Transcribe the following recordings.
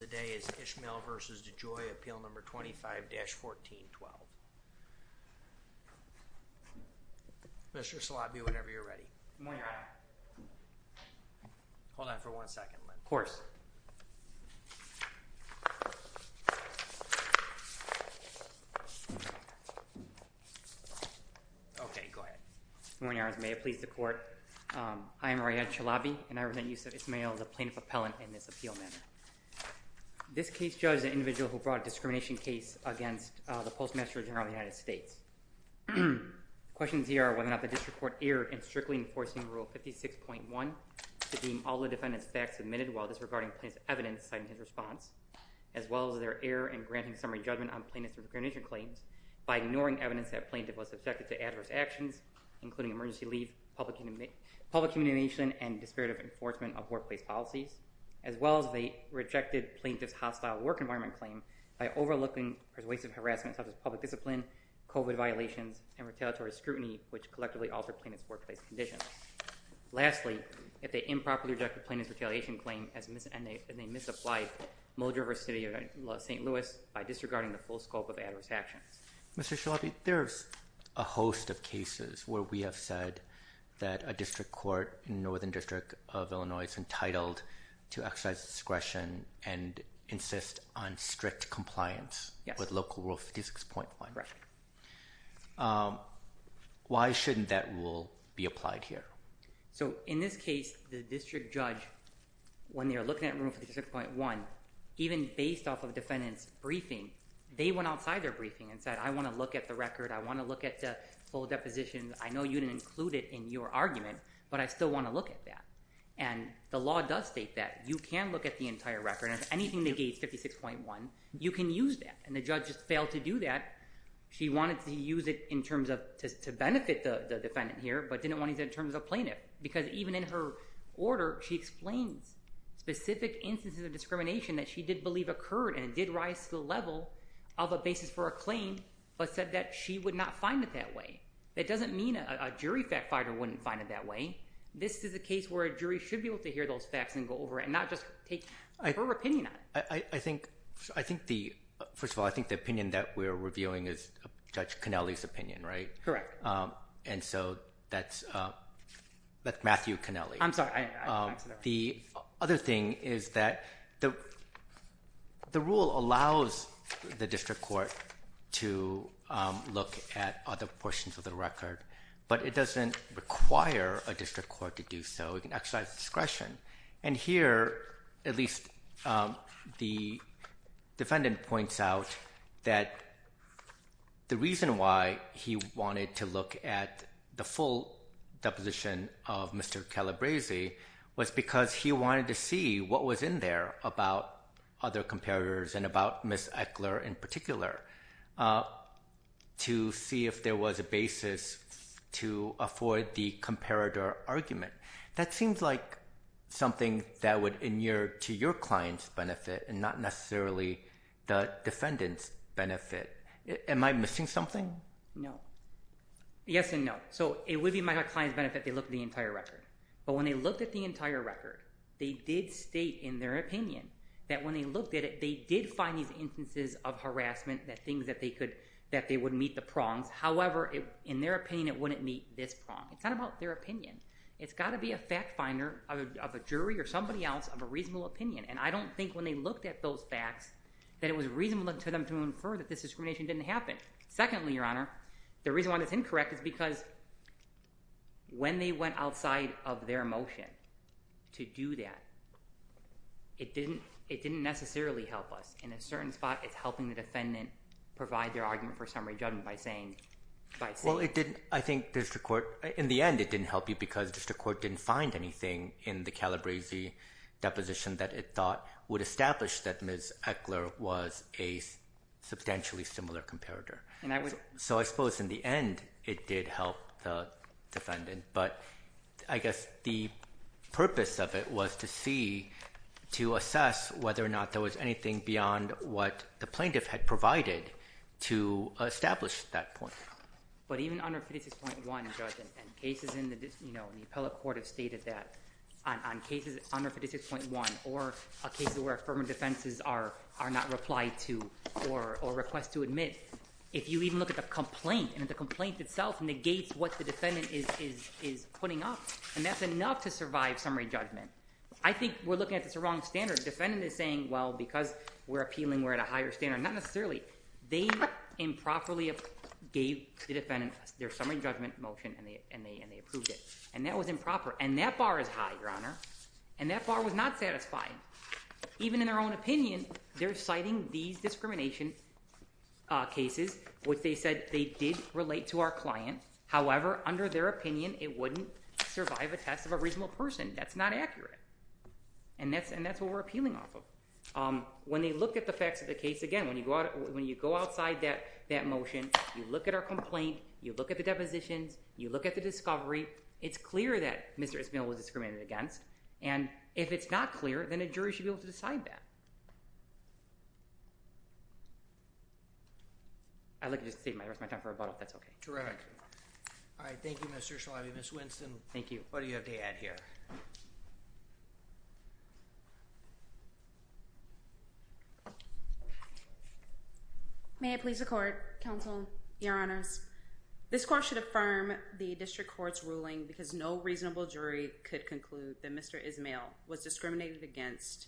Today is Ismail v. DeJoy, Appeal No. 25-1412. Mr. Chalabi, whenever you're ready. Hold on for one second, Len. Of course. Okay, go ahead. Good morning, Your Honors. May it please the Court. I am Riyad Chalabi, and I present Yousef Ismail, the Plaintiff Appellant, in this appeal manner. This case judges an individual who brought a discrimination case against the Postmaster General of the United States. The questions here are whether or not the District Court erred in strictly enforcing Rule 56.1 to deem all the defendant's facts admitted while disregarding plaintiff's evidence citing his response, as well as their error in granting summary judgment on plaintiff's discrimination claims by ignoring evidence that plaintiff was subjected to adverse actions, including emergency leave, public humiliation, and disparative enforcement of workplace policies, as well as they rejected plaintiff's hostile work environment claim by overlooking persuasive harassment such as public discipline, COVID violations, and retaliatory scrutiny, which collectively altered plaintiff's workplace conditions. Lastly, if they improperly rejected plaintiff's retaliation claim and they misapplied Mulder v. City of St. Louis by disregarding the full scope of adverse actions. Mr. Chalabi, there's a host of cases where we have said that a District Court in Northern District of Illinois is entitled to exercise discretion and insist on strict compliance with Local Rule 56.1. Why shouldn't that rule be applied here? So in this case, the district judge, when they were looking at Rule 56.1, even based off of defendant's briefing, they went outside their briefing and said, I want to look at the record. I want to look at the full deposition. I know you didn't include it in your argument, but I still want to look at that. And the law does state that. You can look at the entire record, and if anything negates 56.1, you can use that. And the judge just failed to do that. She wanted to use it in terms of, to benefit the defendant here, but didn't want to use it in terms of plaintiff. Because even in her order, she explains specific instances of discrimination that she did believe occurred and it did rise to the level of a basis for a claim, but said that she would not find it that way. That doesn't mean a jury fact-finder wouldn't find it that way. This is a case where a jury should be able to hear those facts and go over it, not just take her opinion on it. I think, I think the, first of all, I think the opinion that we're reviewing is Judge Cannelli's opinion, right? Correct. And so that's, that's Matthew Cannelli. I'm sorry. I said that wrong. The other thing is that the, the rule allows the district court to look at other portions of the record, but it doesn't require a district court to do so. It can exercise discretion. And here, at least the defendant points out that the reason why he wanted to look at the full deposition of Mr. Calabresi was because he wanted to see what was in there about other comparators and about Ms. Echler in particular, to see if there was a basis to afford the comparator argument. That seems like something that would inure to your client's benefit and not necessarily the defendant's benefit. Am I missing something? No. Yes and no. So, it would be my client's benefit if they looked at the entire record. But when they looked at the entire record, they did state in their opinion that when they looked at it, they did find these instances of harassment, that things that they could, that they would meet the prongs. However, in their opinion, it wouldn't meet this prong. It's not about their opinion. It's got to be a fact finder of a jury or somebody else of a reasonable opinion. And I don't think when they looked at those facts, that it was reasonable to them to infer that this discrimination didn't happen. Secondly, Your Honor, the reason why that's incorrect is because when they went outside of their motion to do that, it didn't necessarily help us. In a certain spot, it's helping the defendant provide their argument for summary judgment by saying... Well, it didn't. I think district court, in the end, it didn't help you because district court didn't find anything in the Calabresi deposition that it thought would establish that Ms. Eckler was a substantially similar comparator. So I suppose in the end, it did help the defendant, but I guess the purpose of it was to see, to assess whether or not there was anything beyond what the plaintiff had provided to establish that point. But even under 56.1, Judge, and cases in the appellate court have stated that on cases under 56.1 or a case where affirmative defenses are not replied to or request to admit, if you even look at the complaint, and the complaint itself negates what the defendant is putting up, and that's enough to survive summary judgment. I think we're looking at this the wrong standard. Defendant is saying, well, because we're appealing, we're at a higher standard. Not necessarily. They improperly gave the defendant their summary judgment motion, and they approved it. And that was improper. And that bar is high, Your Honor. And that bar was not satisfying. Even in their own opinion, they're citing these discrimination cases, which they said they did relate to our client. However, under their opinion, it wouldn't survive a test of a reasonable person. That's not accurate. And that's what we're appealing off of. When they look at the facts of the case, again, when you go outside that motion, you look at our complaint, you look at the depositions, you look at the discovery, it's clear that Mr. Ismael was discriminated against. And if it's not clear, then a jury should be able to decide that. I'd like to just save the rest of my time for rebuttal, if that's okay. Terrific. All right. Thank you, Mr. Shalabi. Ms. Winston. Thank you. What do you have to add here? May I please the court, counsel, Your Honors? This court should affirm the district court's ruling because no reasonable jury could conclude that Mr. Ismael was discriminated against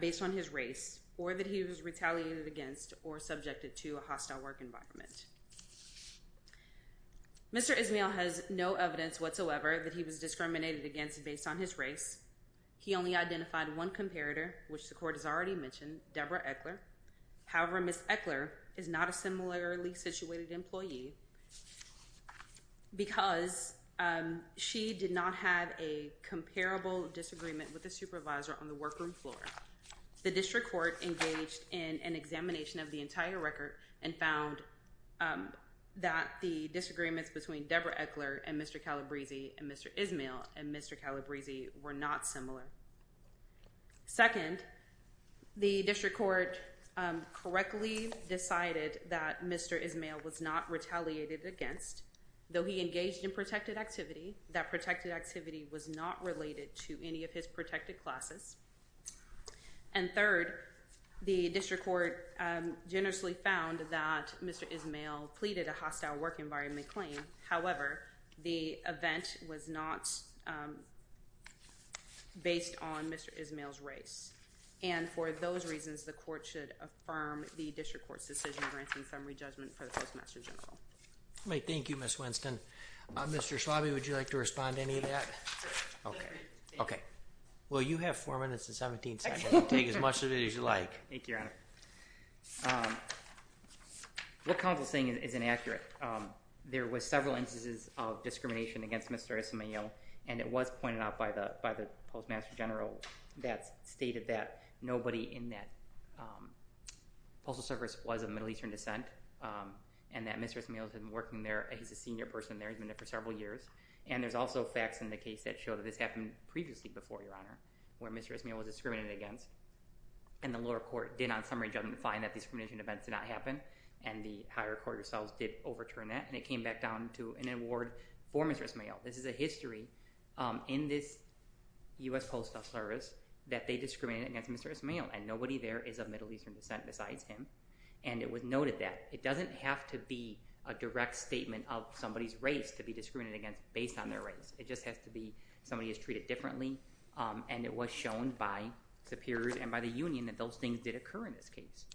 based on his race or that he was retaliated against or subjected to a hostile work environment. Mr. Ismael has no evidence whatsoever that he was discriminated against based on his race. He only identified one comparator, which the court has already mentioned, Deborah Eckler. However, Ms. Eckler is not a similarly situated employee because she did not have a comparable disagreement with the supervisor on the workroom floor. The district court engaged in an examination of the entire record and found that the disagreements between Deborah Eckler and Mr. Calabresi and Mr. Ismael and Mr. Calabresi were not similar. Second, the district court correctly decided that Mr. Ismael was not retaliated against. Though he engaged in protected activity, that protected activity was not related to any of his protected classes. And third, the district court generously found that Mr. Ismael pleaded a hostile work environment claim. However, the event was not based on Mr. Ismael's race. And for those reasons, the court should affirm the district court's decision granting summary judgment for the Postmaster General. Thank you, Ms. Winston. Mr. Schlabe, would you like to respond to any of that? Okay. Okay. Well, you have four minutes and 17 seconds. Take as much of it as you like. Thank you, Your Honor. What counsel is saying is inaccurate. There was several instances of discrimination against Mr. Ismael. And it was pointed out by the Postmaster General that stated that nobody in that postal service was of Middle Eastern descent and that Mr. Ismael has been working there. He's a senior person there. He's been there for several years. And there's also facts in the case that show that this happened previously before, Your Honor, where Mr. Ismael was discriminated against. And the lower court did on summary judgment find that discrimination events did not happen. And the higher court itself did overturn that. And it came back down to an award for Mr. Ismael. This is a history in this U.S. Postal Service that they discriminated against Mr. Ismael. And nobody there is of Middle Eastern descent besides him. And it was noted that. It doesn't have to be a direct statement of somebody's race to be discriminated against based on their race. It just has to be somebody is treated differently. And it was shown by superiors and by the union that those things did occur in this case.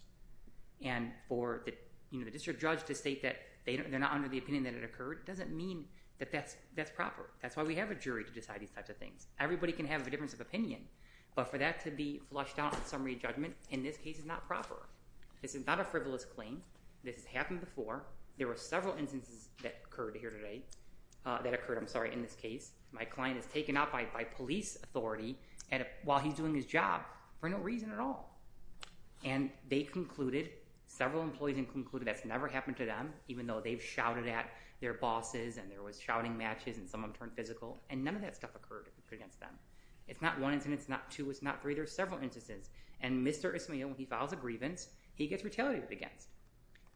And for the district judge to state that they're not under the opinion that it occurred doesn't mean that that's proper. That's why we have a jury to decide these types of things. Everybody can have a difference of opinion. But for that to be flushed out in summary judgment in this case is not proper. This is not a frivolous claim. This has happened before. There were several instances that occurred here today that occurred, I'm sorry, in this case. My client is taken out by police authority while he's doing his job for no reason at all. And they concluded, several employees concluded that's never happened to them, even though they've shouted at their bosses and there was shouting matches and some of them turned physical. And none of that stuff occurred against them. It's not one incident. It's not two. It's not three. There's several instances. And Mr. Ismail, when he files a grievance, he gets retaliated against.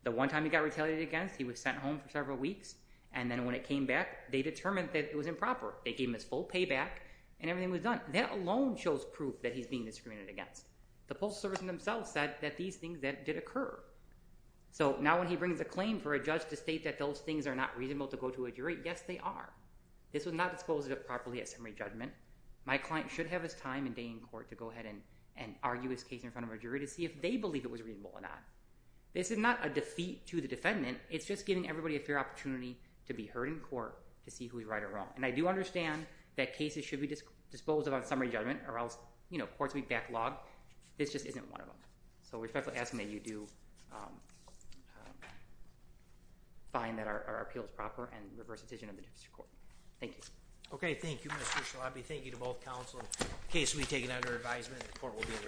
The one time he got retaliated against, he was sent home for several weeks. And then when it came back, they determined that it was improper. They gave him his full payback and everything was done. That alone shows proof that he's being discriminated against. The postal service themselves said that these things did occur. So, now when he brings a claim for a judge to state that those things are not reasonable to go to a jury, yes, they are. This was not disposed of properly at summary judgment. My client should have his time and day in court to go ahead and argue his case in front of a jury to see if they believe it was reasonable or not. This is not a defeat to the defendant. It's just giving everybody a fair opportunity to be heard in court to see who is right or wrong. And I do understand that cases should be disposed of on summary judgment or else, you know, courts may backlog. This just isn't one of them. So, we respectfully ask that you do find that our appeal is proper and reverse the decision of the district court. Thank you. Okay. Thank you, Mr. Shalabi. Thank you to both counsel. The case will be taken under advisement. The court will be in recess.